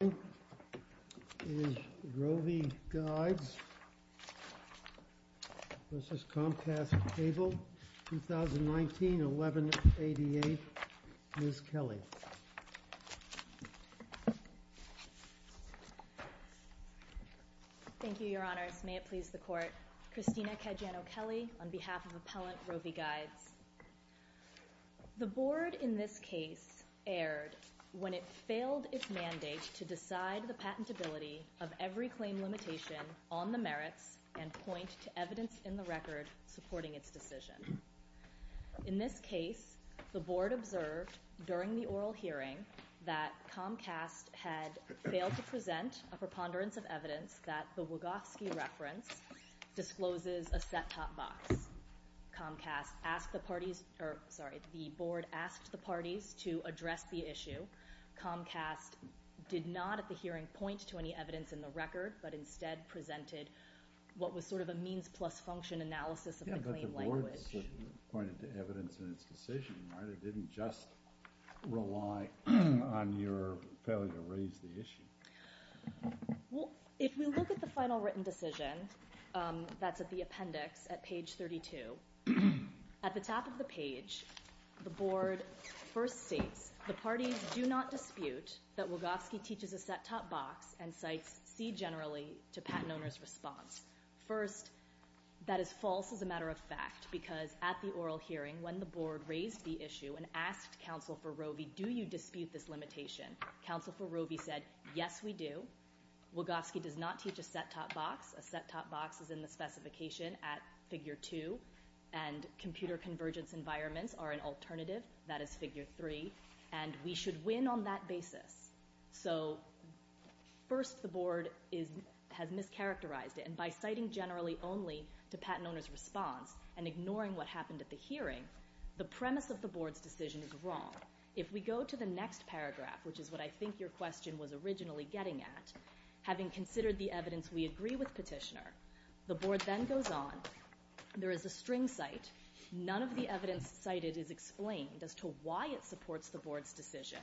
1188, Ms. Kelly. Thank you, Your Honors. May it please the Court. Christina Caggiano-Kelly on behalf of Appellant Rovi Guides. The Board in this case erred when it failed its mandate to decide the patentability of every claim limitation on the merits and point to evidence in the record supporting its decision. In this case, the Board observed during the oral hearing that Comcast had failed to present a preponderance of evidence that the Wogofsky reference discloses a set-top box. Comcast asked the parties—or, sorry, the Board asked the parties—to address the issue. Comcast did not at the hearing point to any evidence in the record, but instead presented what was sort of a means-plus-function analysis of the claim language. Yes, but the Board pointed to evidence in its decision, right? It didn't just rely on your failure to raise the issue. Well, if we look at the final written decision, that's at the appendix at page 32. At the top of the page, the Board first states, the parties do not dispute that Wogofsky teaches a set-top box and cites C generally to patent owner's response. First, that is false as a matter of fact because at the oral hearing when the Board raised the issue and asked Counsel for Rovi, do you dispute this a set-top box is in the specification at Figure 2, and computer convergence environments are an alternative, that is Figure 3, and we should win on that basis. So, first, the Board has mischaracterized it, and by citing generally only to patent owner's response and ignoring what happened at the hearing, the premise of the Board's decision is wrong. If we go to the next paragraph, which is what I think your question was originally getting at, having considered the evidence we agree with Petitioner, the Board then goes on. There is a string cite. None of the evidence cited is explained as to why it supports the Board's decision.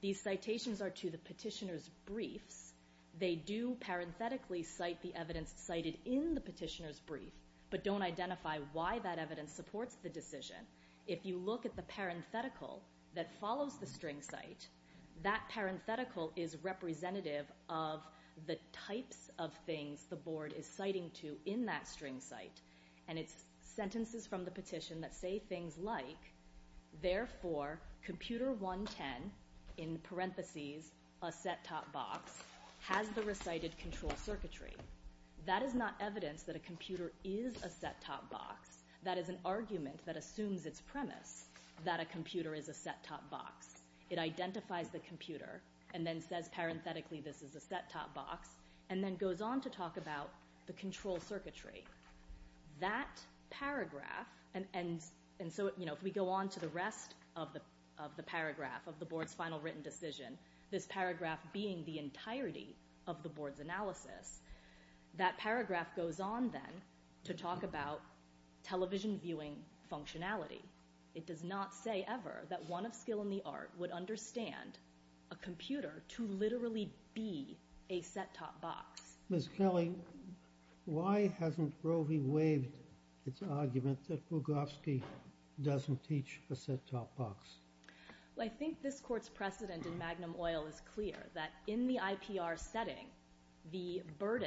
These citations are to the Petitioner's briefs. They do parenthetically cite the evidence cited in the Petitioner's brief, but don't identify why that evidence supports the decision. If you look at the parenthetical that follows the string cite, that parenthetical is representative of the types of things the Board is citing to in that string cite, and it's sentences from the Petition that say things like, therefore, computer 110, in parentheses, a set-top box, has the recited control circuitry. That is not evidence that a computer is a set-top box. That is an argument that assumes its premise, that a computer is a set-top box. It identifies the computer and then says parenthetically, this is a set-top box, and then goes on to talk about the control circuitry. That paragraph, and so if we go on to the rest of the paragraph of the Board's final written decision, this paragraph being the entirety of the Board's analysis, that paragraph goes on then to talk about television viewing functionality. It does not say ever that one of skill in the art would understand a computer to literally be a set-top box. Ms. Kelly, why hasn't Roe v. Wade, its argument that Bugofsky doesn't teach a set-top box? Well, I think this Court's precedent in Magnum Oil is clear, that in the IPR setting, the But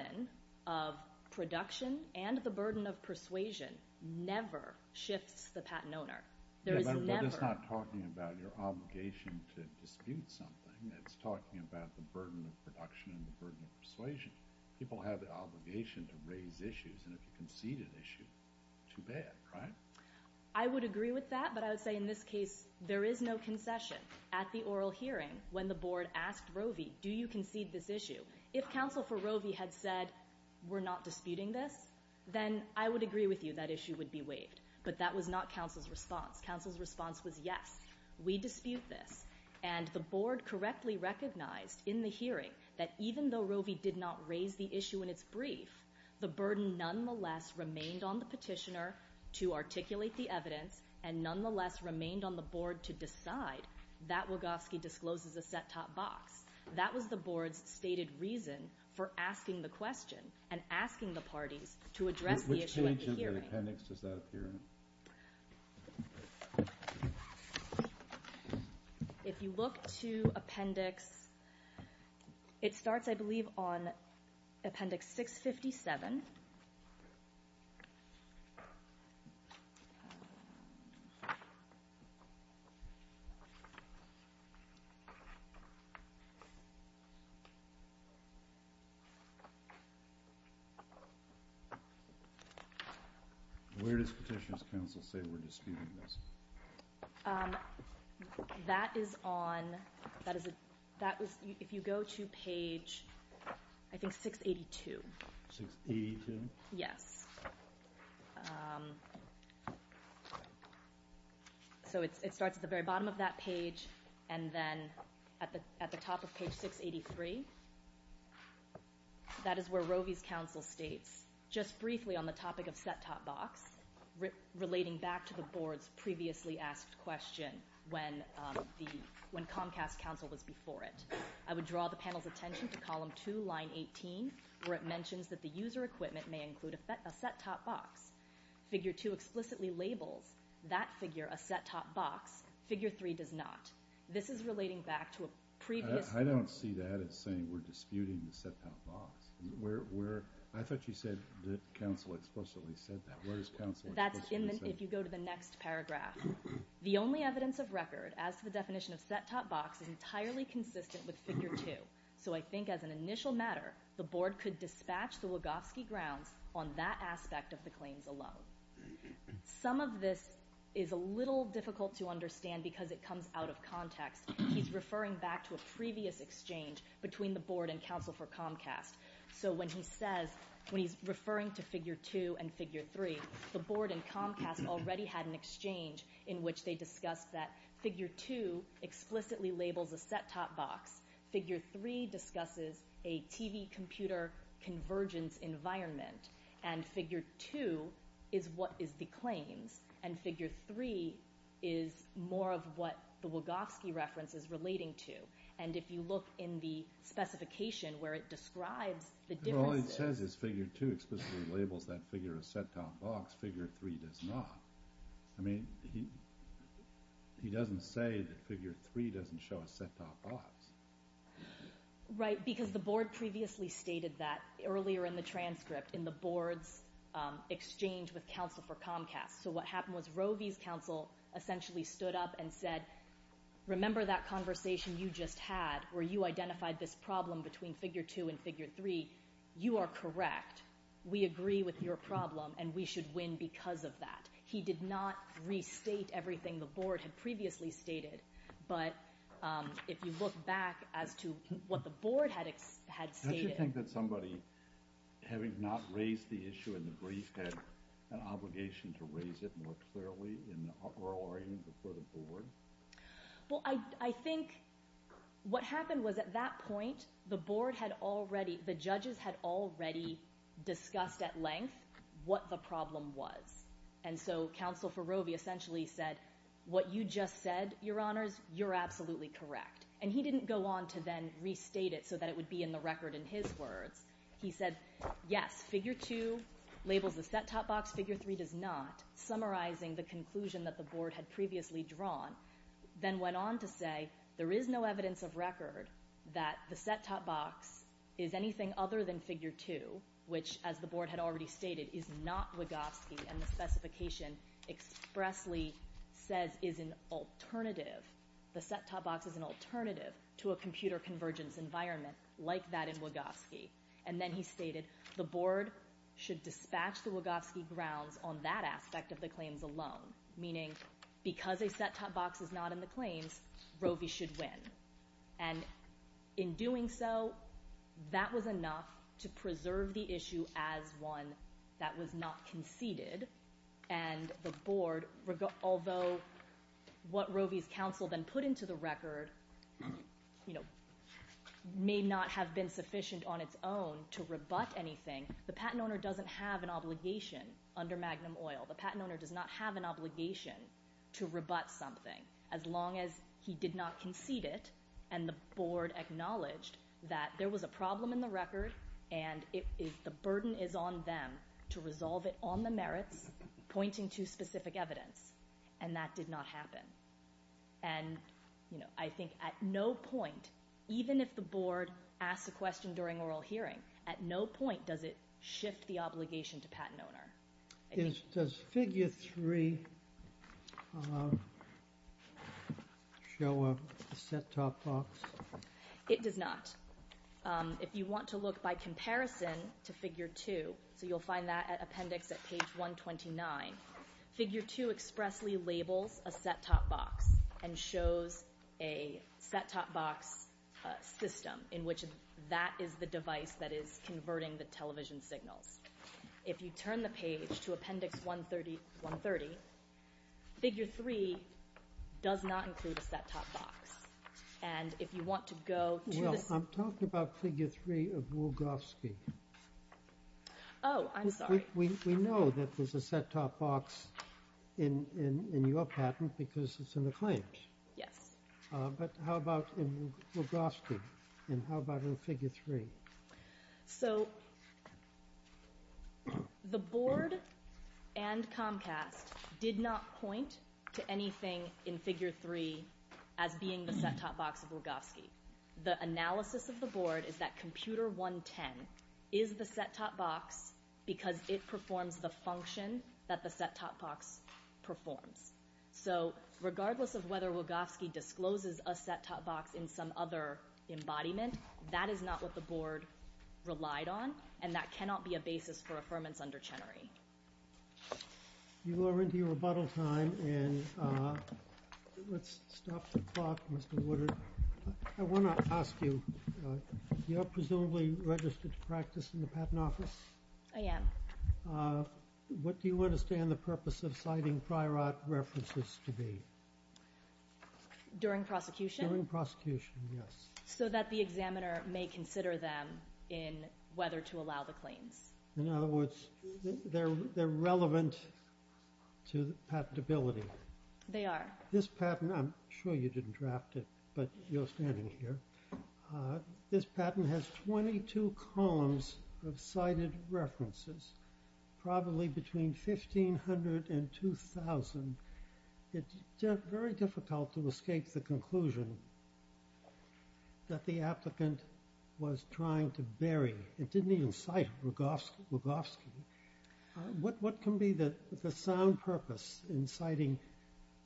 it's not talking about your obligation to dispute something. It's talking about the burden of production and the burden of persuasion. People have the obligation to raise issues, and if you concede an issue, too bad, right? I would agree with that, but I would say in this case, there is no concession. At the oral hearing, when the Board asked Roe v. Wade, do you concede this issue? If counsel for Roe v. Wade had said, we're not disputing this, then I would agree with you that issue would be waived. But that was not counsel's response. Counsel's response was, yes, we dispute this. And the Board correctly recognized in the hearing that even though Roe v. did not raise the issue in its brief, the burden nonetheless remained on the petitioner to articulate the evidence and nonetheless remained on the Board to decide that Bugofsky discloses a set-top box. That was the Board's stated reason for asking the question and asking the parties to address the issue at the hearing. Which page of the appendix does that appear in? If you look to appendix, it starts, I believe, on appendix 657. Where does Petitioner's counsel say we're disputing this? That is on, that is a, that is, if you go to page, I think, 682. Yes. So it starts at the very bottom of that page, and then at the top of page 683, that is where Roe v.'s counsel states, just briefly on the topic of set-top box, relating back to the Board's previously asked question when the, when Comcast counsel was before it. I would draw the panel's attention to column 2, line 18, where it mentions that the user equipment may include a set-top box. Figure 2 explicitly labels that figure a set-top box. Figure 3 does not. This is relating back to a previous... I don't see that as saying we're disputing the set-top box. Where, where, I thought you said that counsel explicitly said that. Where is counsel explicitly saying that? That's in the, if you go to the next paragraph. The only evidence of record as to the definition of set-top box is entirely consistent with figure 2. So I think as an initial matter, the Board could dispatch the Lugovsky grounds on that aspect of the claims alone. Some of this is a little difficult to understand because it comes out of context. He's referring back to a previous exchange between the Board and counsel for Comcast. So when he says, when he's referring to figure 2 and figure 3, the Board and Comcast already had an exchange in which they discussed that figure 2 explicitly labels a set-top box. Figure 3 discusses a TV computer convergence environment. And figure 2 is what is the claims. And figure 3 is more of what the Lugovsky reference is relating to. And if you look in the specification where it describes the differences... All he says is figure 2 explicitly labels that figure a set-top box. Figure 3 does not. I mean, he doesn't say that figure 3 doesn't show a set-top box. Right, because the Board previously stated that earlier in the transcript in the Board's exchange with counsel for Comcast. So what happened was Roe v. counsel essentially stood up and said, remember that conversation you just had where you identified this problem between figure 2 and figure 3. You are correct. We agree with your problem and we should win because of that. He did not restate everything the Board had previously stated. But if you look back as to what the Board had stated... Don't you think that somebody, having not raised the issue in the brief, had an obligation to raise it more clearly in the oral argument before the Board? Well, I think what happened was at that point, the Board had already, the judges had already discussed at length what the problem was. And so counsel for Roe v. essentially said, what you just said, your honors, you're absolutely correct. And he didn't go on to then restate it so that it would be in the record in his words. He said, yes, figure 2 labels the set-top box, figure 3 does not, summarizing the conclusion that the Board had previously drawn. Then went on to say, there is no evidence of record that the set-top box is anything other than what, as the Board had already stated, is not Wachowski. And the specification expressly says is an alternative. The set-top box is an alternative to a computer convergence environment like that in Wachowski. And then he stated, the Board should dispatch the Wachowski grounds on that aspect of the claims alone. Meaning, because a set-top box is not in the claims, Roe v. should win. And in doing so, that was enough to preserve the issue as one that was not conceded. And the Board, although what Roe v.'s counsel then put into the record may not have been sufficient on its own to rebut anything, the patent owner doesn't have an obligation under Magnum Oil. The patent owner does not have an obligation to rebut something as long as he did not concede it. And the Board acknowledged that there was a problem in the record. And the burden is on them to resolve it on the merits, pointing to specific evidence. And that did not happen. And I think at no point, even if the Board asks a question during oral hearing, at no point does it shift the obligation to patent owner. Does figure 3 show a set-top box? It does not. If you want to look by comparison to figure 2, so you'll find that at appendix at page 129, figure 2 expressly labels a set-top box and shows a set-top box system in which that is the device that is converting the television signals. If you turn the page to appendix 130, figure 3 does not include a set-top box. And if you want to go to the... Well, I'm talking about figure 3 of Wolgowski. Oh, I'm sorry. We know that there's a set-top box in your patent because it's in the claims. Yes. But how about in Wolgowski? And how about in figure 3? So the Board and Comcast did not point to anything in figure 3 as being the set-top box of Wolgowski. The analysis of the Board is that computer 110 is the set-top box because it performs the function that the set-top box performs. So regardless of whether Wolgowski discloses a set-top box in some other embodiment, that is not what the Board relied on, and that cannot be a basis for affirmance under Chenery. You are into your rebuttal time, and let's stop the clock, Mr. Woodard. I want to ask you, you're presumably registered to practice in the Patent Office? I am. What do you understand the purpose of citing prior art references to be? During prosecution? During prosecution, yes. So that the examiner may consider them in whether to allow the claims. In other words, they're relevant to patentability. They are. This patent, I'm sure you didn't draft it, but you're standing here. This patent has 22 columns of cited references, probably between 1,500 and 2,000. It's very difficult to escape the conclusion that the applicant was trying to bury. It didn't even cite Wolgowski. What can be the sound purpose in citing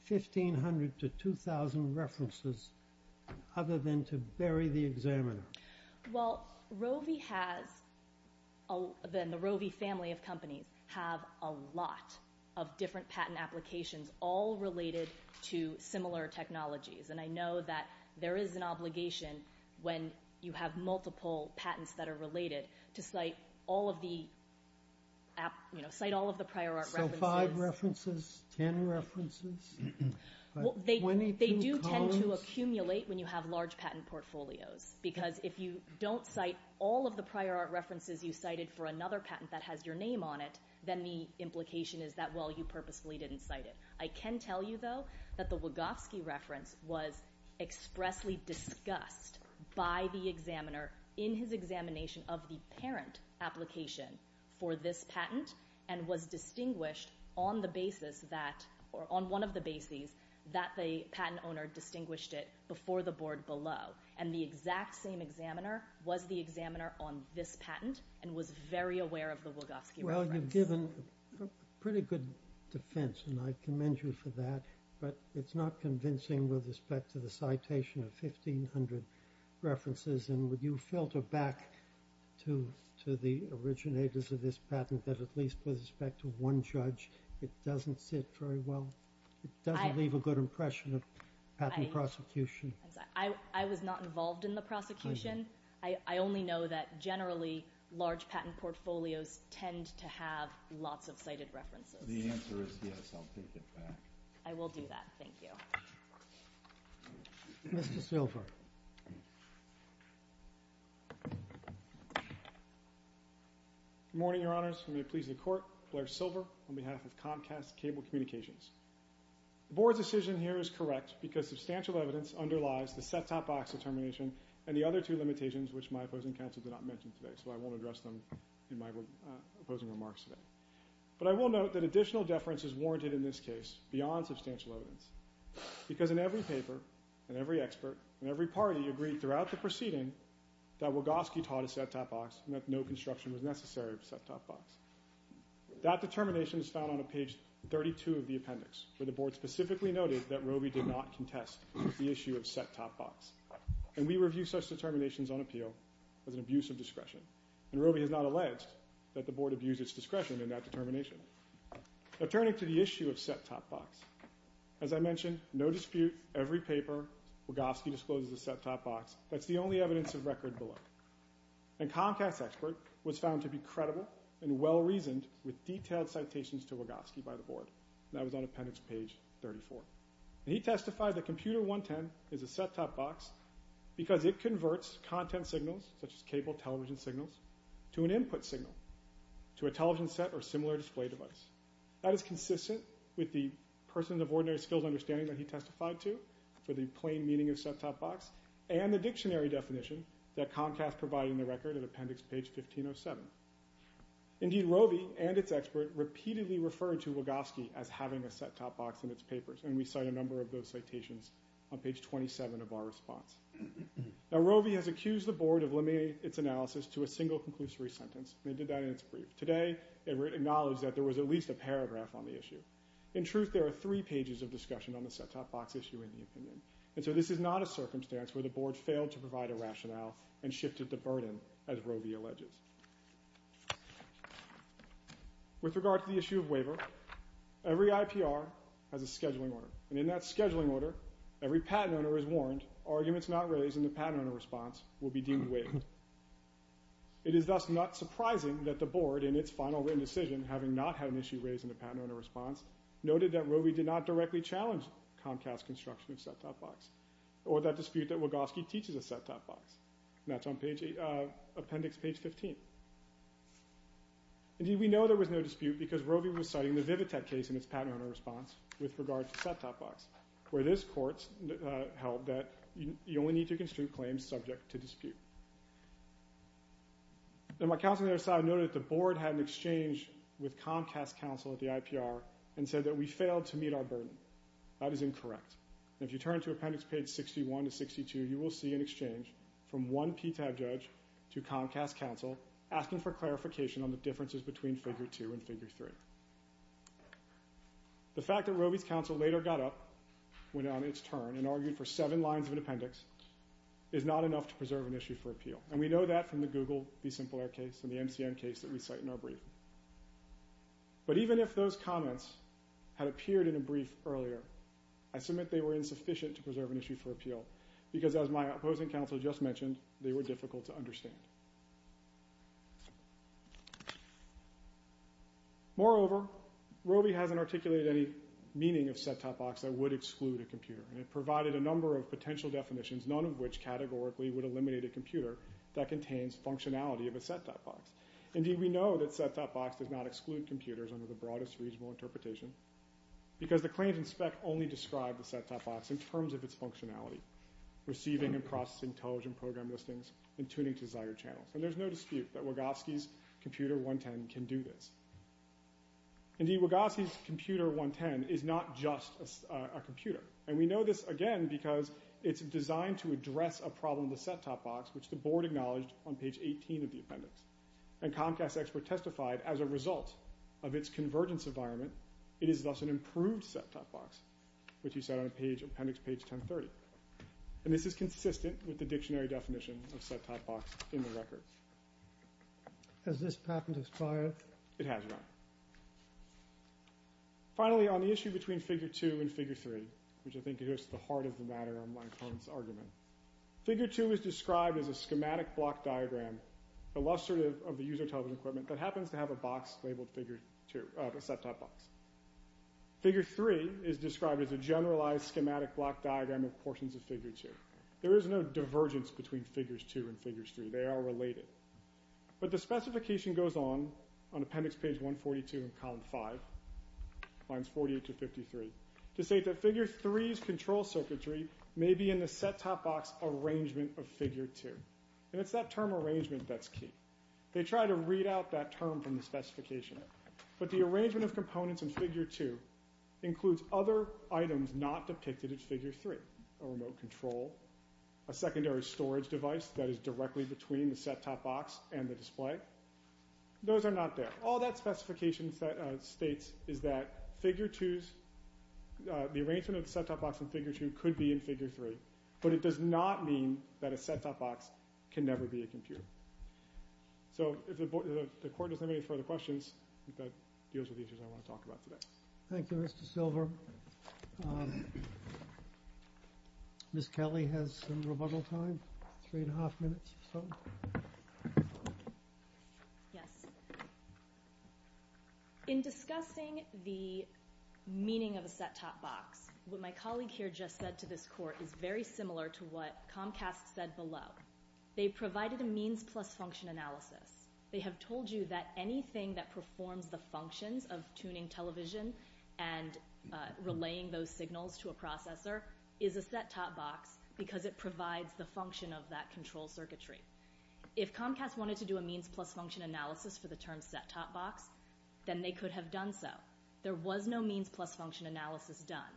1,500 to 2,000 references other than to bury the examiner? Well, the Roe v. Family of companies have a lot of different patent applications, all related to similar technologies. And I know that there is an obligation when you have multiple patents that are related to cite all of the prior art references. So five references, 10 references, 22 columns? They do tend to accumulate when you have large patent portfolios, because if you don't cite all of the prior art references you cited for another patent that has your name on it, then the implication is that, well, you purposefully didn't cite it. I can tell you, though, that the Wolgowski reference was expressly discussed by the examiner in his examination of the parent application for this patent and was distinguished on the basis that, or on one of the bases, that the patent owner distinguished it before the board below. And the exact same examiner was the examiner on this patent and was very aware of the Wolgowski reference. Well, you've given pretty good defense, and I commend you for that. But it's not convincing with respect to the citation of 1,500 references. And would you filter back to the originators of this patent that, at least with respect to one judge, it doesn't sit very well? It doesn't leave a good impression of patent prosecution. I was not involved in the prosecution. I only know that, generally, large patent portfolios tend to have lots of cited references. The answer is yes, I'll take it back. I will do that. Thank you. Mr. Silver. Good morning, Your Honors. It will be a pleasure to court. Blair Silver on behalf of Comcast Cable Communications. The board's decision here is correct because substantial evidence underlies the set-top box determination and the other two limitations, which my opposing counsel did not mention today. So I won't address them in my opposing remarks today. But I will note that additional deference is warranted in this case beyond substantial evidence because in every paper and every expert and every party agreed throughout the proceeding that Wolgowski taught a set-top box and that no construction was necessary of a set-top box. That determination is found on page 32 of the appendix, where the board specifically noted that Robey did not contest the issue of set-top box. And we review such determinations on appeal as an abuse of discretion. And Robey has not alleged that the board abused its discretion in that determination. Now, turning to the issue of set-top box, as I mentioned, no dispute, every paper, Wolgowski discloses a set-top box. That's the only evidence of record below. And Comcast's expert was found to be credible and well-reasoned with detailed citations to Wolgowski by the board. That was on appendix page 34. And he testified that computer 110 is a set-top box because it converts content signals, such as cable television signals, to an input signal, to a television set or similar display device. That is consistent with the person of ordinary skills understanding that he testified to for the plain meaning of set-top box and the dictionary definition that Comcast provided in the record of appendix page 1507. Indeed, Robey and its expert repeatedly referred to Wolgowski as having a set-top box in its papers. And we cite a number of those citations on page 27 of our response. Now, Robey has accused the board of limiting its analysis to a single conclusory sentence. And it did that in its brief. Today, it acknowledged that there was at least a paragraph on the issue. In truth, there are three pages of discussion on the set-top box issue in the opinion. And so this is not a circumstance where the board failed to provide a rationale and shifted the burden, as Robey alleges. With regard to the issue of waiver, every IPR has a scheduling order. And in that scheduling order, every patent owner is warned, arguments not raised in the patent owner response will be deemed waived. It is thus not surprising that the board, in its final written decision, having not had an issue raised in the patent owner response, noted that Robey did not directly challenge Comcast's construction of set-top box or that dispute that Wolgowski teaches a set-top box. And that's on appendix page 15. Indeed, we know there was no dispute because Robey was citing the Vivitech case in its patent owner response with regard to set-top box, where this court held that you only need to construe claims subject to dispute. And my counsel on the other side noted that the board had an exchange with Comcast counsel at the IPR and said that we failed to meet our burden. That is incorrect. And if you turn to appendix page 61 to 62, you will see an exchange from one PTAB judge to Comcast counsel asking for clarification on the differences between figure two and figure three. The fact that Robey's counsel later got up, went on its turn, and argued for seven lines of an appendix is not enough to preserve an issue for appeal. And we know that from the Google v. Simple Air case and the MCM case that we cite in our brief. But even if those comments had appeared in a brief earlier, I submit they were insufficient to preserve an issue for appeal because as my opposing counsel just mentioned, they were difficult to understand. Moreover, Robey hasn't articulated any meaning of set-top box that would exclude a computer. And it provided a number of potential definitions, none of which categorically would eliminate a computer that contains functionality of a set-top box. Indeed, we know that set-top box does not exclude computers under the broadest reasonable interpretation because the claims in spec only describe the set-top box in terms of its functionality. Receiving and processing intelligent program listings and tuning desired channels. And there's no dispute that Wogoski's Computer 110 can do this. Indeed, Wogoski's Computer 110 is not just a computer. And we know this again because it's designed to address a problem in the set-top box which the board acknowledged on page 18 of the appendix. And Comcast Expert testified as a result of its convergence environment, it is thus an improved set-top box, which he said on appendix page 1030. And this is consistent with the dictionary definition of set-top box in the record. Has this patent expired? It has, Your Honor. Finally, on the issue between figure 2 and figure 3, which I think is just the heart of the matter on my opponent's argument. Figure 2 is described as a schematic block diagram illustrative of the user television equipment that happens to have a box labeled figure 2, a set-top box. Figure 3 is described as a generalized schematic block diagram of portions of figure 2. There is no divergence between figures 2 and figures 3. They are related. But the specification goes on, on appendix page 142 in column 5, lines 48 to 53, to say that figure 3's control circuitry may be in the set-top box arrangement of figure 2. And it's that term arrangement that's key. They try to read out that term from the specification. But the arrangement of components in figure 2 includes other items not depicted in figure 3. A remote control. A secondary storage device that is directly between the set-top box and the display. Those are not there. All that specification states is that figure 2's, the arrangement of the set-top box in figure 2 could be in figure 3. But it does not mean that a set-top box can never be a computer. So if the court doesn't have any further questions, that deals with the issues I want to talk about today. Thank you, Mr. Silver. Ms. Kelly has some rebuttal time. Three and a half minutes or so. Yes. In discussing the meaning of a set-top box, what my colleague here just said to this court is very similar to what Comcast said below. They provided a means-plus-function analysis. They have told you that anything that performs the functions of tuning television and relaying those signals to a processor is a set-top box because it provides the function of that control circuitry. If Comcast wanted to do a means-plus-function analysis for the term set-top box, then they could have done so. There was no means-plus-function analysis done.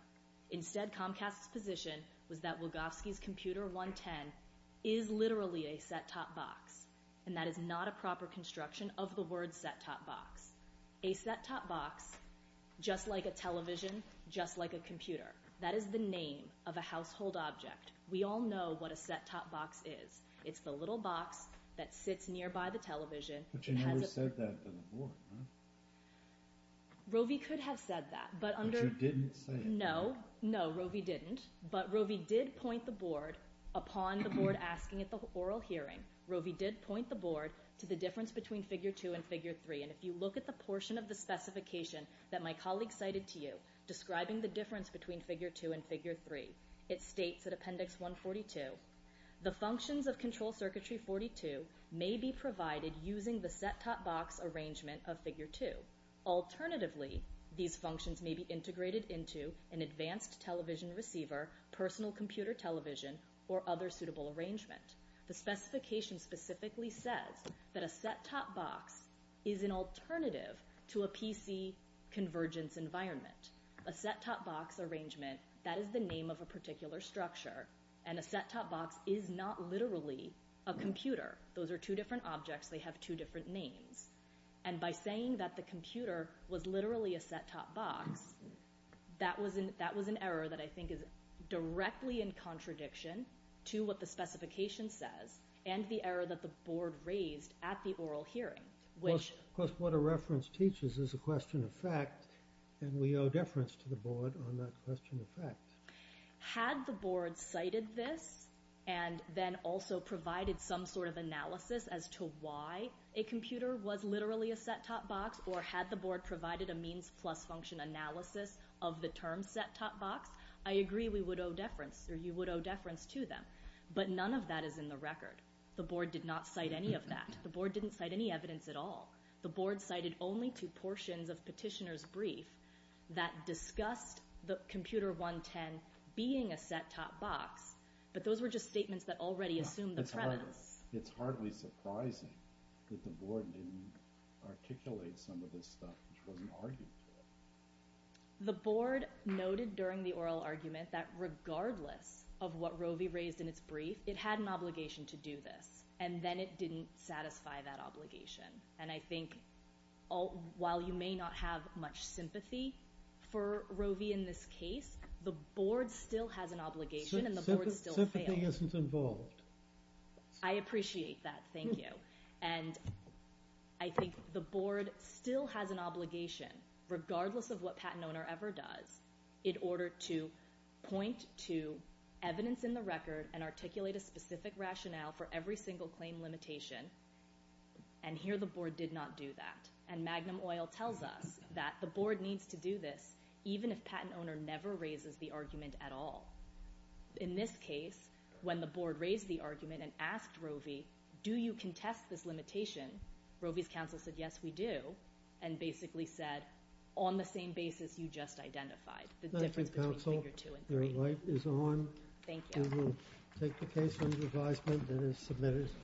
Instead, Comcast's position was that Wogowski's computer 110 is literally a set-top box, and that is not a proper construction of the word set-top box. A set-top box, just like a television, just like a computer, that is the name of a household object. We all know what a set-top box is. It's the little box that sits nearby the television. But you never said that to the court, huh? But you didn't say it. No, Rovi didn't. But Rovi did point the board, upon the board asking at the oral hearing, Rovi did point the board to the difference between figure 2 and figure 3. And if you look at the portion of the specification that my colleague cited to you, describing the difference between figure 2 and figure 3, it states at Appendix 142, the functions of control circuitry 42 may be provided using the set-top box arrangement of figure 2. Alternatively, these functions may be integrated into an advanced television receiver, personal computer television, or other suitable arrangement. The specification specifically says that a set-top box is an alternative to a PC convergence environment. A set-top box arrangement, that is the name of a particular structure, and a set-top box is not literally a computer. Those are two different objects. They have two different names. And by saying that the computer was literally a set-top box, that was an error that I think is directly in contradiction to what the specification says and the error that the board raised at the oral hearing. Which, of course, what a reference teaches is a question of fact, and we owe deference to the board on that question of fact. Had the board cited this and then also provided some sort of analysis as to why a computer was literally a set-top box, or had the board provided a means plus function analysis of the term set-top box, I agree we would owe deference, or you would owe deference to them. But none of that is in the record. The board did not cite any of that. The board didn't cite any evidence at all. The board cited only two portions of petitioner's brief that discussed the computer 110 being a set-top box, but those were just statements that already assumed the premise. It's hardly surprising that the board didn't articulate some of this stuff, which wasn't argued to it. The board noted during the oral argument that regardless of what Roe v. raised in its brief, it had an obligation to do this, and then it didn't satisfy that obligation. And I think while you may not have much sympathy for Roe v. in this case, the board still has an obligation and the board still failed. Sympathy isn't involved. I appreciate that. Thank you. And I think the board still has an obligation, regardless of what patent owner ever does, in order to point to evidence in the record and articulate a specific rationale for every single claim limitation. And here the board did not do that. And Magnum Oil tells us that the board needs to do this even if patent owner never raises the argument at all. In this case, when the board raised the argument and asked Roe v., do you contest this limitation? Roe v.'s counsel said, yes, we do. And basically said, on the same basis you just identified. The difference between figure two and three. Your light is on. Thank you. We will take the case under advisement that is submitted.